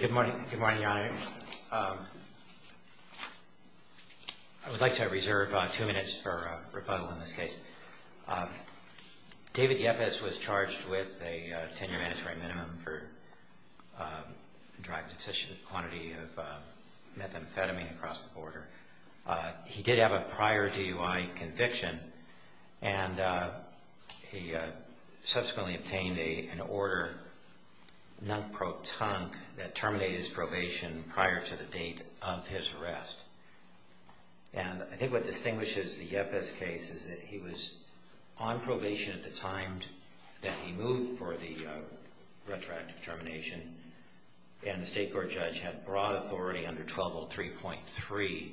Good morning, Your Honor. I would like to reserve two minutes for rebuttal in this case. David Yepez was charged with a 10-year mandatory minimum for drug-deficient quantity of methamphetamine across the border. He did have a prior DUI conviction, and he subsequently obtained an order non-protonque that terminated his probation prior to the date of his arrest. And I think what distinguishes the Yepez case is that he was on probation at the time that he moved for the retroactive termination, and the state court judge had broad authority under 1203.3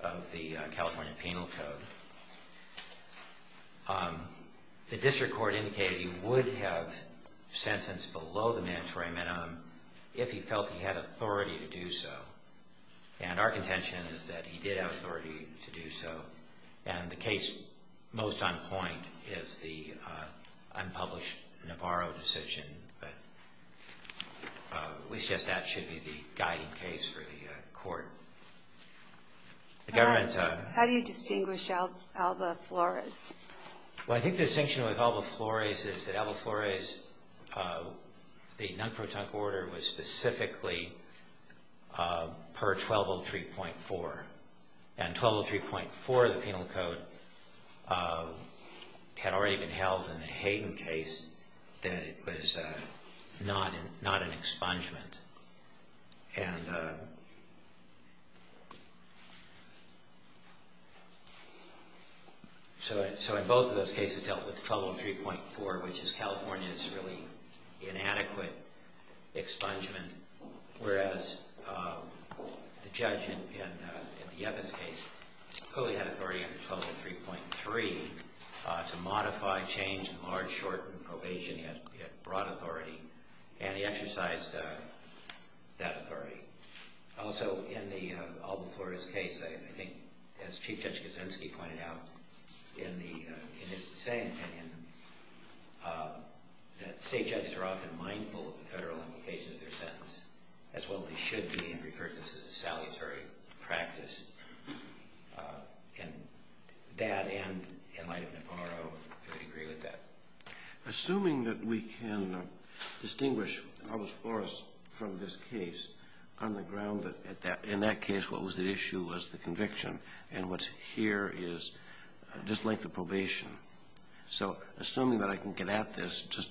of the California Penal Code. The district court indicated he would have sentenced below the mandatory minimum if he felt he had authority to do so, and our contention is that he did have authority to do so, and the case most on point is the unpublished Navarro decision, but we suggest that should be the guiding case for the court. The government... How do you distinguish Alba Flores? Well, I think the distinction with Alba Flores is that Alba Flores, the non-protonque order was specifically per 1203.4, and 1203.4 of the Penal Code had already been held in the Hayden case that it was not an expungement, and so in both of those cases dealt with 1203.4, which is California's really inadequate expungement, whereas the judge in the Yepez case clearly had authority under 1203.3 to modify, change, enlarge, shorten probation, he had broad authority, and he exercised that authority. Also, in the Alba Flores case, I think as Chief Judge Kuczynski pointed out in his dissenting opinion, that state judges are often mindful of the federal implications of their sentence, as well as they should be, and he referred to this as a salutary practice, and that and the enlightenment of Navarro could agree with that. Assuming that we can distinguish Alba Flores from this case on the ground that in that case what was the issue was the conviction, and what's here is just length of probation, so assuming that I can get at this just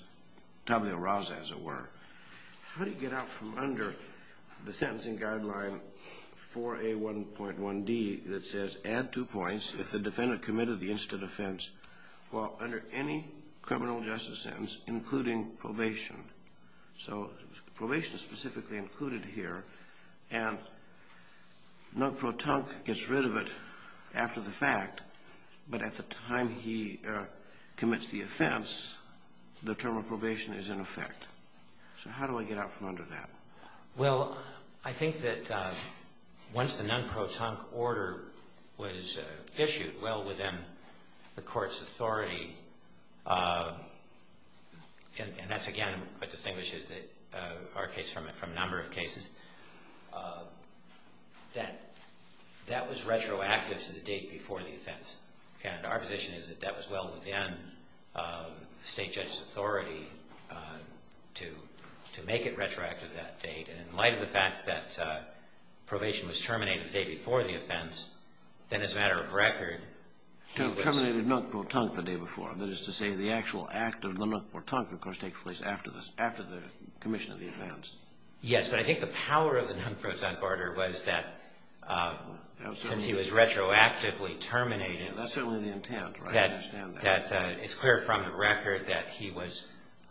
4A1.1D that says add two points if the defendant committed the incident offense while under any criminal justice sentence, including probation. So probation is specifically included here, and Nug Pro Tonk gets rid of it after the fact, but at the time he commits the offense, the term of probation is in effect. So how do I get out from under that? Well, I think that once the Nug Pro Tonk order was issued well within the court's authority, and that's again what distinguishes our case from a number of cases, that that was retroactive to the date before the offense. Again, our position is that that was well within the state judge's authority to make it retroactive that date, and in light of the fact that probation was terminated the day before the offense, then as a matter of record, he was... Terminated Nug Pro Tonk the day before, that is to say the actual act of the Nug Pro Tonk, of course, takes place after the commission of the offense. Yes, but I think the power of the Nug Pro Tonk order was that since he was retroactively terminated... That's certainly the intent, right, I understand that. That it's clear from the record that he was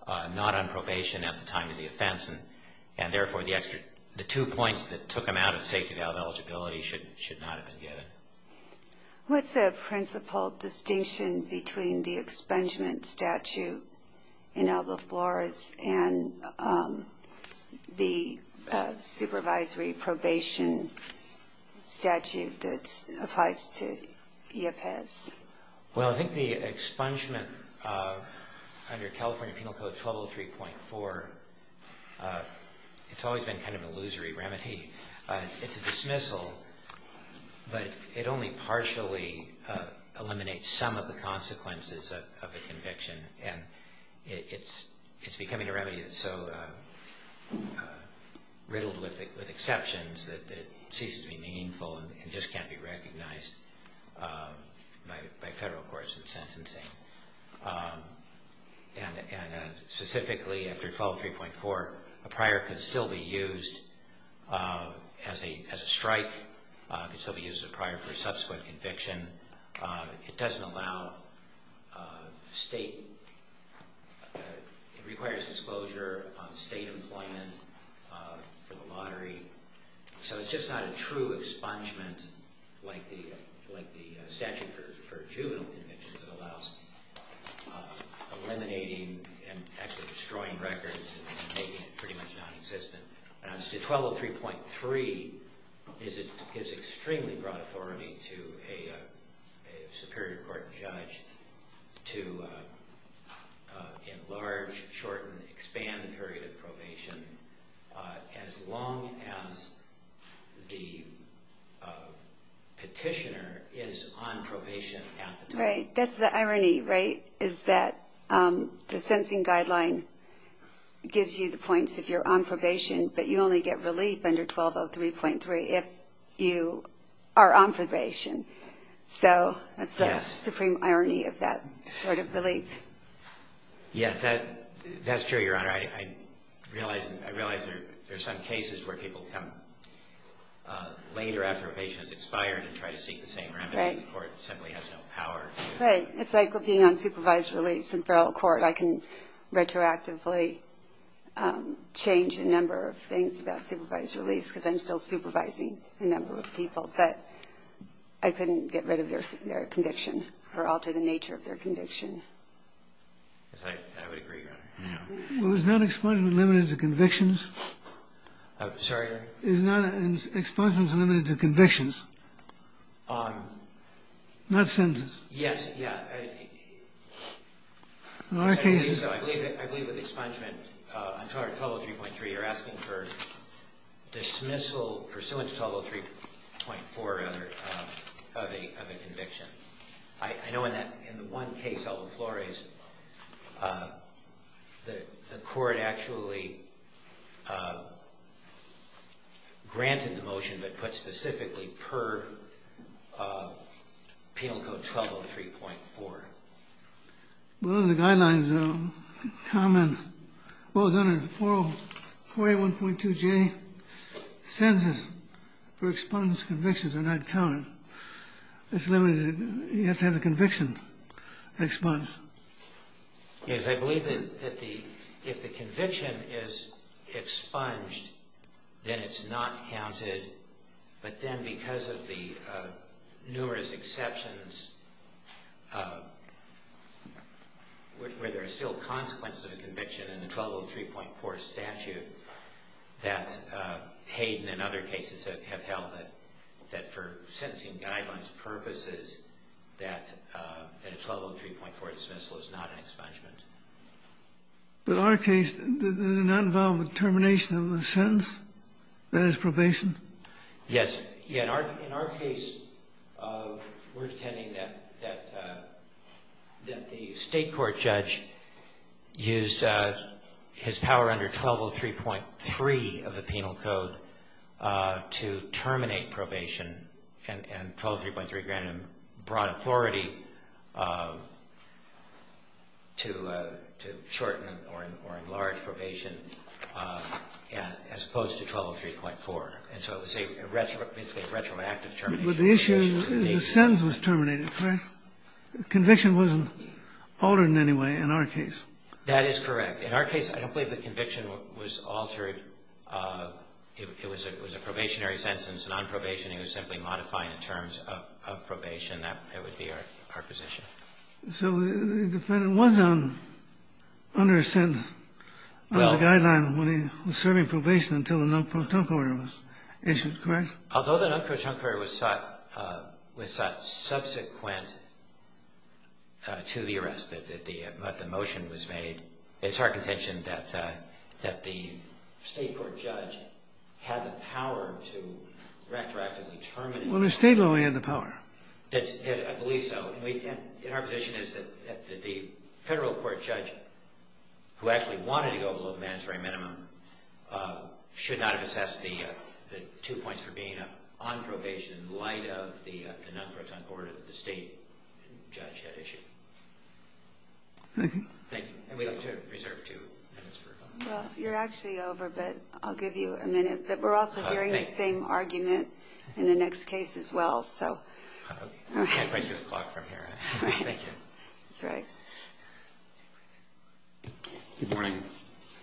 not on probation at the time of the offense, and therefore the two points that took him out of safety valve eligibility should not have been given. What's the principal distinction between the expungement statute in Alba Flores and the supervisory probation statute that applies to IAPAS? Well, I think the expungement under California Penal Code 1203.4, it's always been kind of an illusory remedy. It's a dismissal, but it only partially eliminates some of the consequences of a conviction, and it's becoming a remedy that's so riddled with exceptions that it ceases to be meaningful and just can't be recognized by federal courts in sentencing. And specifically, after 1203.4, a prior could still be used as a strike, could still be used as a prior for a subsequent conviction. It doesn't allow state... it requires disclosure on state employment for the lottery. So it's just not a true expungement like the statute for juvenile convictions that allows eliminating and actually destroying records and making it pretty much non-existent. 1203.3 gives extremely broad authority to a superior court judge to enlarge, shorten, expand the period of probation as long as the petitioner is on probation at the time. Right. That's the irony, right, is that the sentencing guideline gives you the points if you're on probation, but you only get relief under 1203.3 if you are on probation. So that's the supreme irony of that sort of relief. Yes, that's true, Your Honor. I realize there are some cases where people come later after a patient has expired and try to seek the same remedy, or it simply has no power. Right. It's like being on supervised release in federal court. I can retroactively change a number of things about supervised release because I'm still supervising a number of people. But I couldn't get rid of their conviction or alter the nature of their conviction. Yes, I would agree, Your Honor. Well, is not expungement limited to convictions? Sorry? Is not expungement limited to convictions? Yes, yes. In our case ---- I believe with expungement, I'm sorry, 1203.3, you're asking for dismissal pursuant to 1203.4 of a conviction. I know in that one case, Aldo Flores, the court actually granted the motion but put specifically per Penal Code 1203.4. Well, the guidelines comment, well, it's under 401.2J, census for expunged convictions are not counted. It's limited, you have to have the conviction expunged. Yes, I believe that if the conviction is expunged, then it's not counted, but then because of the numerous exceptions where there are still consequences of a conviction in the 1203.4 statute that Hayden and other cases have held that for sentencing guidelines purposes that a 1203.4 dismissal is not an expungement. But in our case, does it not involve a termination of the sentence? That is probation? Yes. In our case, we're intending that the state court judge used his power under 1203.3 of the Penal Code to terminate probation and 1203.3 granted him broad authority to shorten or enlarge probation as opposed to 1203.4. And so it's a retroactive termination. But the issue is the sentence was terminated, correct? The conviction wasn't altered in any way in our case. That is correct. In our case, I don't believe the conviction was altered. It was a probationary sentence, non-probation. It was simply modified in terms of probation. That would be our position. So the defendant was under a sentence on the guideline when he was serving probation until a non-protonc order was issued, correct? Although the non-protonc order was sought subsequent to the arrest, that the motion was made, it's our contention that the state court judge had the power to retroactively terminate. Well, the state only had the power. I believe so. And our position is that the federal court judge, who actually wanted to go below the mandatory minimum, should not have assessed the two points for being on probation in light of the non-protonc order that the state judge had issued. Thank you. And we'd like to reserve two minutes for questions. Well, you're actually over, but I'll give you a minute. But we're also hearing the same argument in the next case as well. I can't quite see the clock from here. Thank you. That's right. Good morning.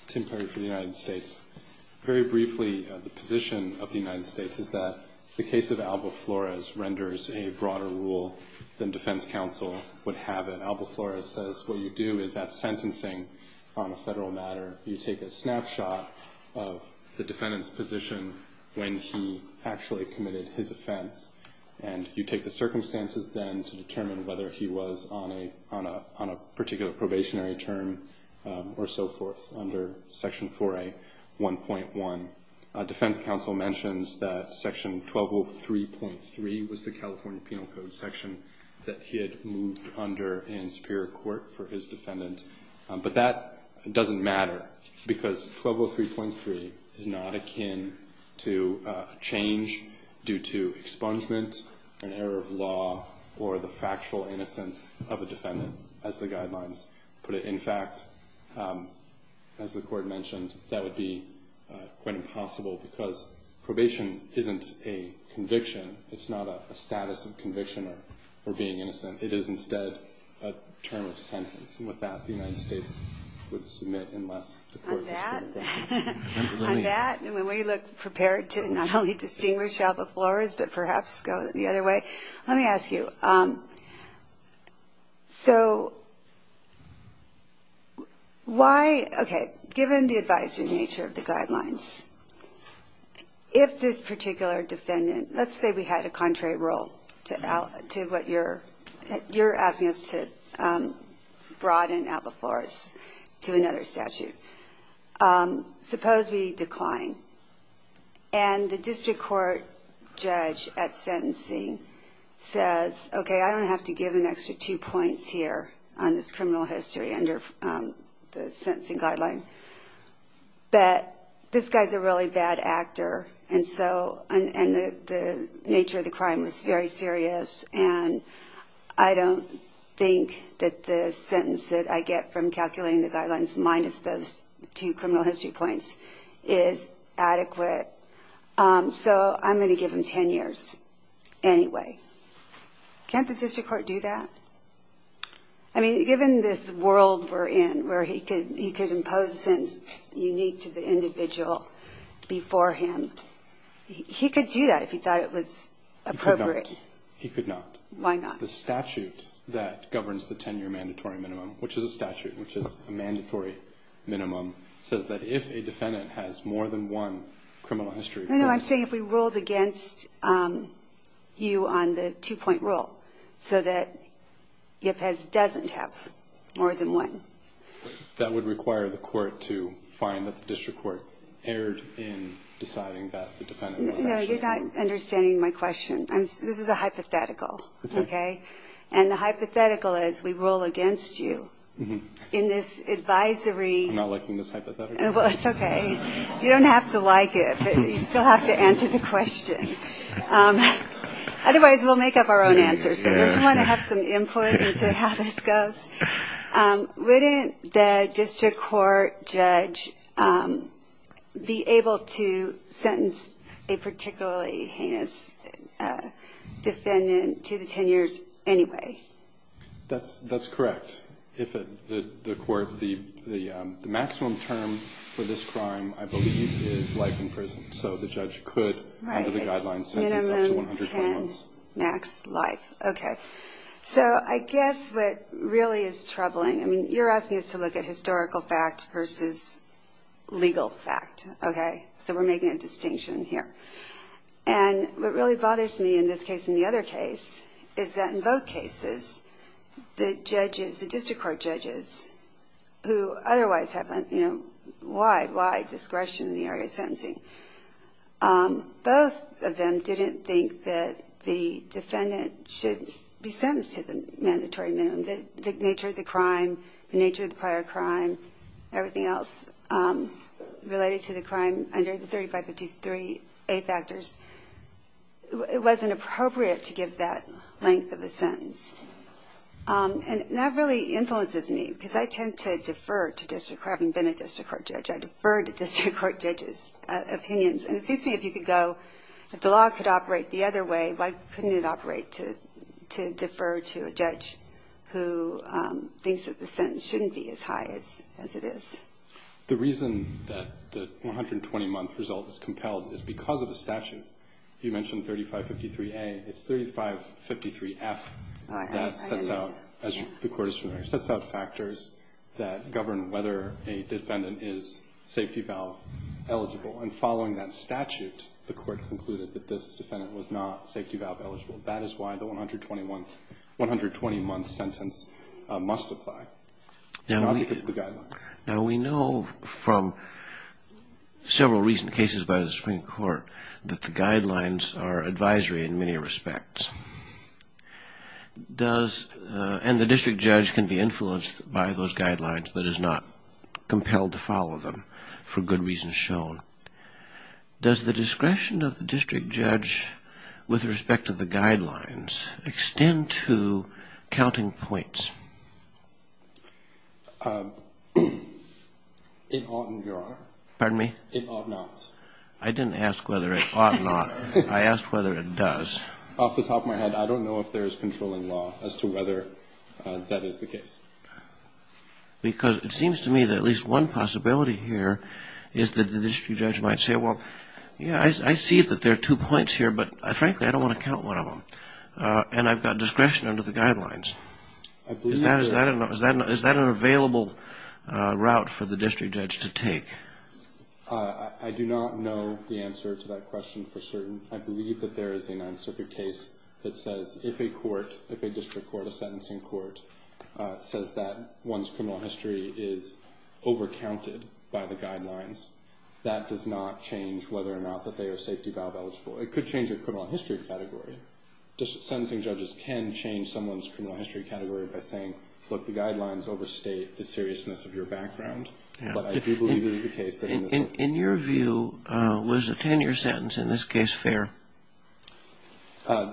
Tim Perry for the United States. Very briefly, the position of the United States is that the case of Alba Flores renders a broader rule than defense counsel would have it. Alba Flores says what you do is at sentencing on a federal matter, you take a snapshot of the defendant's position when he actually committed his offense, and you take the circumstances then to determine whether he was on a particular probationary term or so forth under Section 4A.1.1. Defense counsel mentions that Section 1203.3 was the California Penal Code section that he had moved under in superior court for his defendant. But that doesn't matter because 1203.3 is not akin to a change due to expungement, an error of law, or the factual innocence of a defendant as the guidelines put it. In fact, as the Court mentioned, that would be quite impossible because probation isn't a conviction. It's not a status of conviction or being innocent. It is instead a term of sentence. And with that, the United States would submit unless the Court decided otherwise. On that, we look prepared to not only distinguish Alba Flores but perhaps go the other way. Let me ask you, so why – okay, given the advisory nature of the guidelines, if this particular defendant – let's say we had a contrary rule to what you're asking us to broaden Alba Flores to another statute. Suppose we decline and the district court judge at sentencing says, okay, I don't have to give an extra two points here on this criminal history under the sentencing guideline, but this guy's a really bad actor and the nature of the crime was very serious and I don't think that the sentence that I get from calculating the guidelines minus those two criminal history points is adequate. So I'm going to give him 10 years anyway. Can't the district court do that? I mean, given this world we're in where he could impose a sentence unique to the individual before him, he could do that if he thought it was appropriate. He could not. He could not. Why not? The statute that governs the 10-year mandatory minimum, which is a statute, which is a mandatory minimum, says that if a defendant has more than one criminal history point – more than one. That would require the court to find that the district court erred in deciding that the defendant was – No, you're not understanding my question. This is a hypothetical, okay? And the hypothetical is we rule against you in this advisory – I'm not liking this hypothetical. Well, it's okay. You don't have to like it, but you still have to answer the question. Otherwise, we'll make up our own answers. I just want to have some input into how this goes. Wouldn't the district court judge be able to sentence a particularly heinous defendant to the 10 years anyway? That's correct. If the court – the maximum term for this crime, I believe, is life in prison. So the judge could, under the guidelines, sentence up to 120 months. Okay. So I guess what really is troubling – I mean, you're asking us to look at historical fact versus legal fact, okay? So we're making a distinction here. And what really bothers me in this case and the other case is that in both cases, the judges – the district court judges who otherwise have, you know, wide, wide discretion in the area of sentencing – the defendant should be sentenced to the mandatory minimum. The nature of the crime, the nature of the prior crime, everything else related to the crime under the 3553A factors, it wasn't appropriate to give that length of a sentence. And that really influences me because I tend to defer to district court – having been a district court judge, I defer to district court judges' opinions. And it seems to me if you could go – if the law could operate the other way, why couldn't it operate to defer to a judge who thinks that the sentence shouldn't be as high as it is? The reason that the 120-month result is compelled is because of the statute. You mentioned 3553A. It's 3553F that sets out – as the court is familiar – sets out factors that govern whether a defendant is safety valve eligible. And following that statute, the court concluded that this defendant was not safety valve eligible. That is why the 120-month sentence must apply, not because of the guidelines. Now, we know from several recent cases by the Supreme Court that the guidelines are advisory in many respects. Does – and the district judge can be influenced by those guidelines, but is not compelled to follow them for good reasons shown. Does the discretion of the district judge with respect to the guidelines extend to counting points? It ought not, Your Honor. Pardon me? It ought not. I didn't ask whether it ought not. I asked whether it does. Off the top of my head, I don't know if there is controlling law as to whether that is the case. Because it seems to me that at least one possibility here is that the district judge might say, well, yeah, I see that there are two points here, but frankly, I don't want to count one of them. And I've got discretion under the guidelines. Is that an available route for the district judge to take? I do not know the answer to that question for certain. I believe that there is an answer to your case that says if a court, if a district court, a sentencing court, says that one's criminal history is overcounted by the guidelines, that does not change whether or not that they are safety valve eligible. It could change your criminal history category. Sentencing judges can change someone's criminal history category by saying, look, the guidelines overstate the seriousness of your background. But I do believe it is the case that in this case. Was the 10-year sentence in this case fair?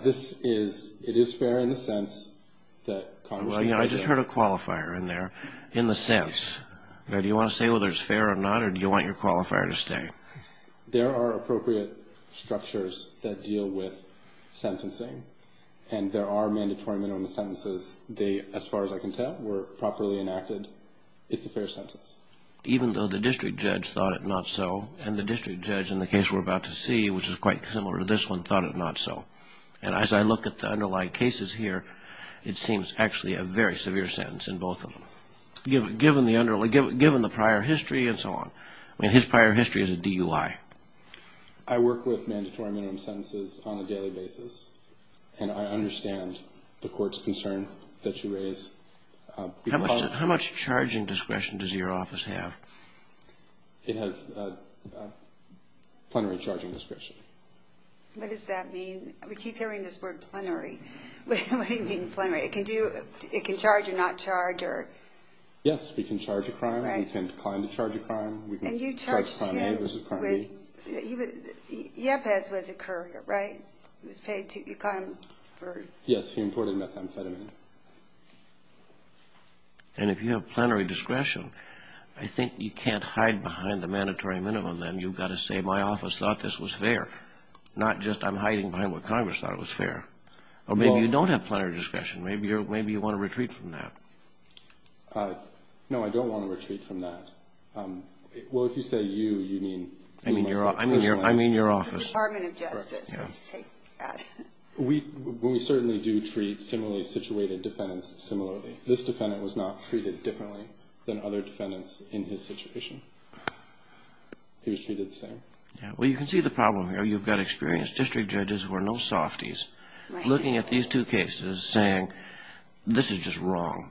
This is, it is fair in the sense that Congress. I just heard a qualifier in there, in the sense. Do you want to say whether it's fair or not, or do you want your qualifier to stay? There are appropriate structures that deal with sentencing. And there are mandatory minimum sentences. They, as far as I can tell, were properly enacted. It's a fair sentence. Even though the district judge thought it not so, and the district judge in the case we're about to see, which is quite similar to this one, thought it not so. And as I look at the underlying cases here, it seems actually a very severe sentence in both of them, given the prior history and so on. I mean, his prior history is a DUI. I work with mandatory minimum sentences on a daily basis, and I understand the court's concern that you raise. How much charging discretion does your office have? It has plenary charging discretion. What does that mean? We keep hearing this word, plenary. What do you mean, plenary? It can charge or not charge? Yes, we can charge a crime. We can decline to charge a crime. Charge crime A versus crime B. Yepes was a courier, right? Yes, he imported methamphetamine. And if you have plenary discretion, I think you can't hide behind the mandatory minimum then. You've got to say, my office thought this was fair. Not just I'm hiding behind what Congress thought was fair. Or maybe you don't have plenary discretion. Maybe you want to retreat from that. No, I don't want to retreat from that. Well, if you say you, you mean yourself personally? I mean your office. The Department of Justice. Let's take that. We certainly do treat similarly situated defendants similarly. This defendant was not treated differently than other defendants in his situation. He was treated the same. Well, you can see the problem here. You've got experienced district judges who are no softies looking at these two cases saying, this is just wrong.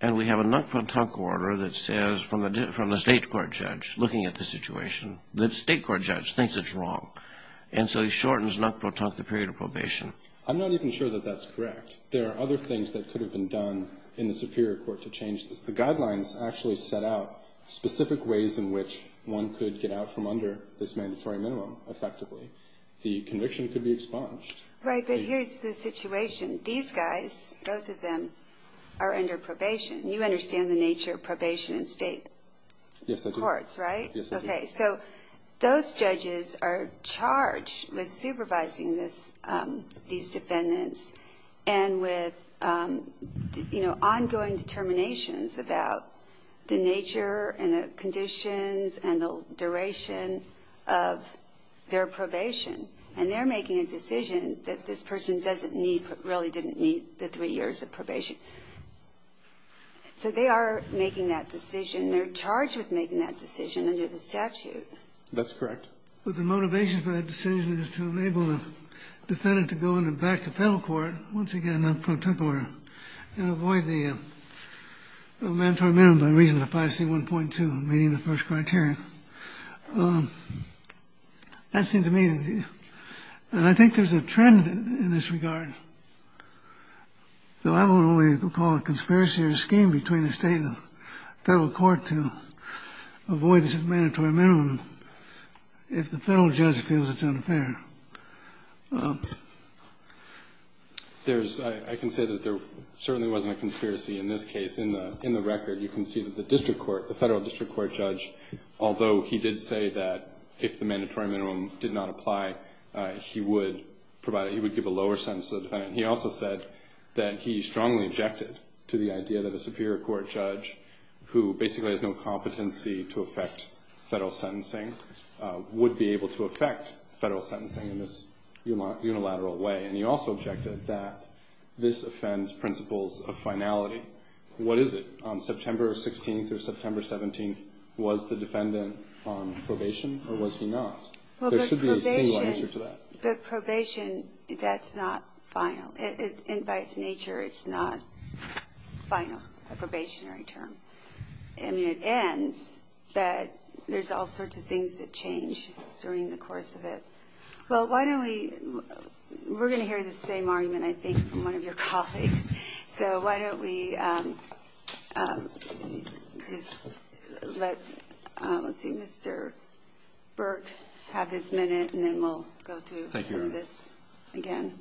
And we have a knock-punk order that says from the state court judge looking at the situation, the state court judge thinks it's wrong. And so he shortens knock-punk the period of probation. I'm not even sure that that's correct. There are other things that could have been done in the superior court to change this. The guidelines actually set out specific ways in which one could get out from under this mandatory minimum effectively. The conviction could be expunged. Right, but here's the situation. These guys, both of them, are under probation. You understand the nature of probation in state courts, right? Yes, I do. Okay, so those judges are charged with supervising these defendants and with, you know, ongoing determinations about the nature and the conditions and the duration of their probation. And they're making a decision that this person doesn't need, really didn't need the three years of probation. So they are making that decision. They're charged with making that decision under the statute. That's correct. But the motivation for that decision is to enable the defendant to go on and back to federal court, once again, not pro tempore, and avoid the mandatory minimum by reason of 5C1.2, meaning the first criterion. That seemed to me to be, and I think there's a trend in this regard, though I won't only call it a conspiracy or a scheme between the state and the federal court to avoid this mandatory minimum if the federal judge feels it's unfair. There's, I can say that there certainly wasn't a conspiracy in this case. In the record, you can see that the district court, the federal district court judge, although he did say that if the mandatory minimum did not apply, he would provide, he would give a lower sentence to the defendant. He also said that he strongly objected to the idea that a superior court judge, who basically has no competency to affect federal sentencing, would be able to affect federal sentencing in this unilateral way. And he also objected that this offends principles of finality. What is it? On September 16th or September 17th, was the defendant on probation or was he not? There should be a single answer to that. But probation, that's not final. And by its nature, it's not final, a probationary term. I mean, it ends, but there's all sorts of things that change during the course of it. Well, why don't we, we're going to hear the same argument, I think, from one of your colleagues. So why don't we just let, let's see, Mr. Burke have his minute, and then we'll go to some of this again.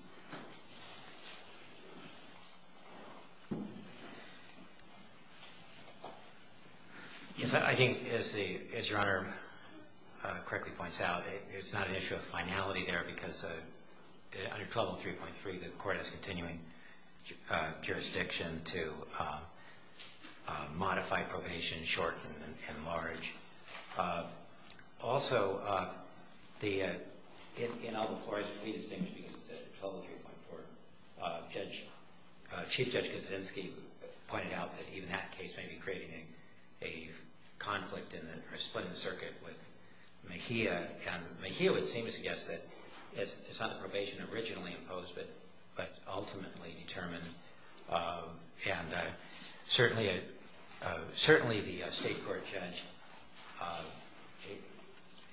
I think, as Your Honor correctly points out, it's not an issue of finality there because under 1203.3, the court has continuing jurisdiction to modify probation, shorten, and enlarge. Also, in Albemarle, it's pretty distinguished because it's 1203.4. Chief Judge Kaczynski pointed out that even that case may be creating a conflict in the, or splitting the circuit with Mejia. And Mejia would seem to suggest that it's not the probation originally imposed, but ultimately determined. And certainly, the state court judge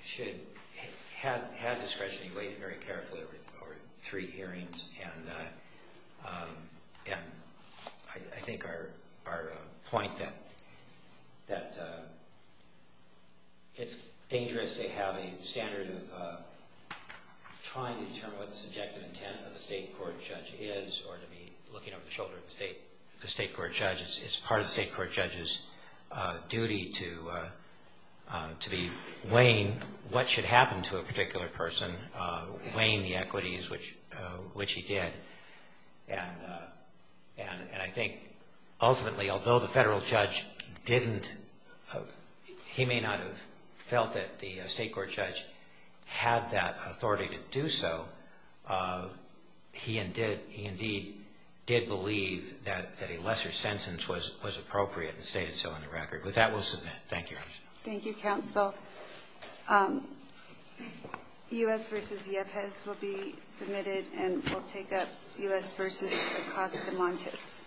should have discretion. He weighed it very carefully over three hearings. And I think our point that it's dangerous to have a standard of trying to determine what the subjective intent of the state court judge is, or to be looking over the shoulder of the state court judge. It's part of the state court judge's duty to be weighing what should happen to a particular person, weighing the equities, which he did. And I think ultimately, although the federal judge didn't, he may not have felt that the state court judge had that authority to do so, he indeed did believe that a lesser sentence was appropriate and stated so in the record. With that, we'll submit. Thank you, Your Honor. Thank you, counsel. U.S. v. Yepez will be submitted, and we'll take up U.S. v. Acosta-Montes.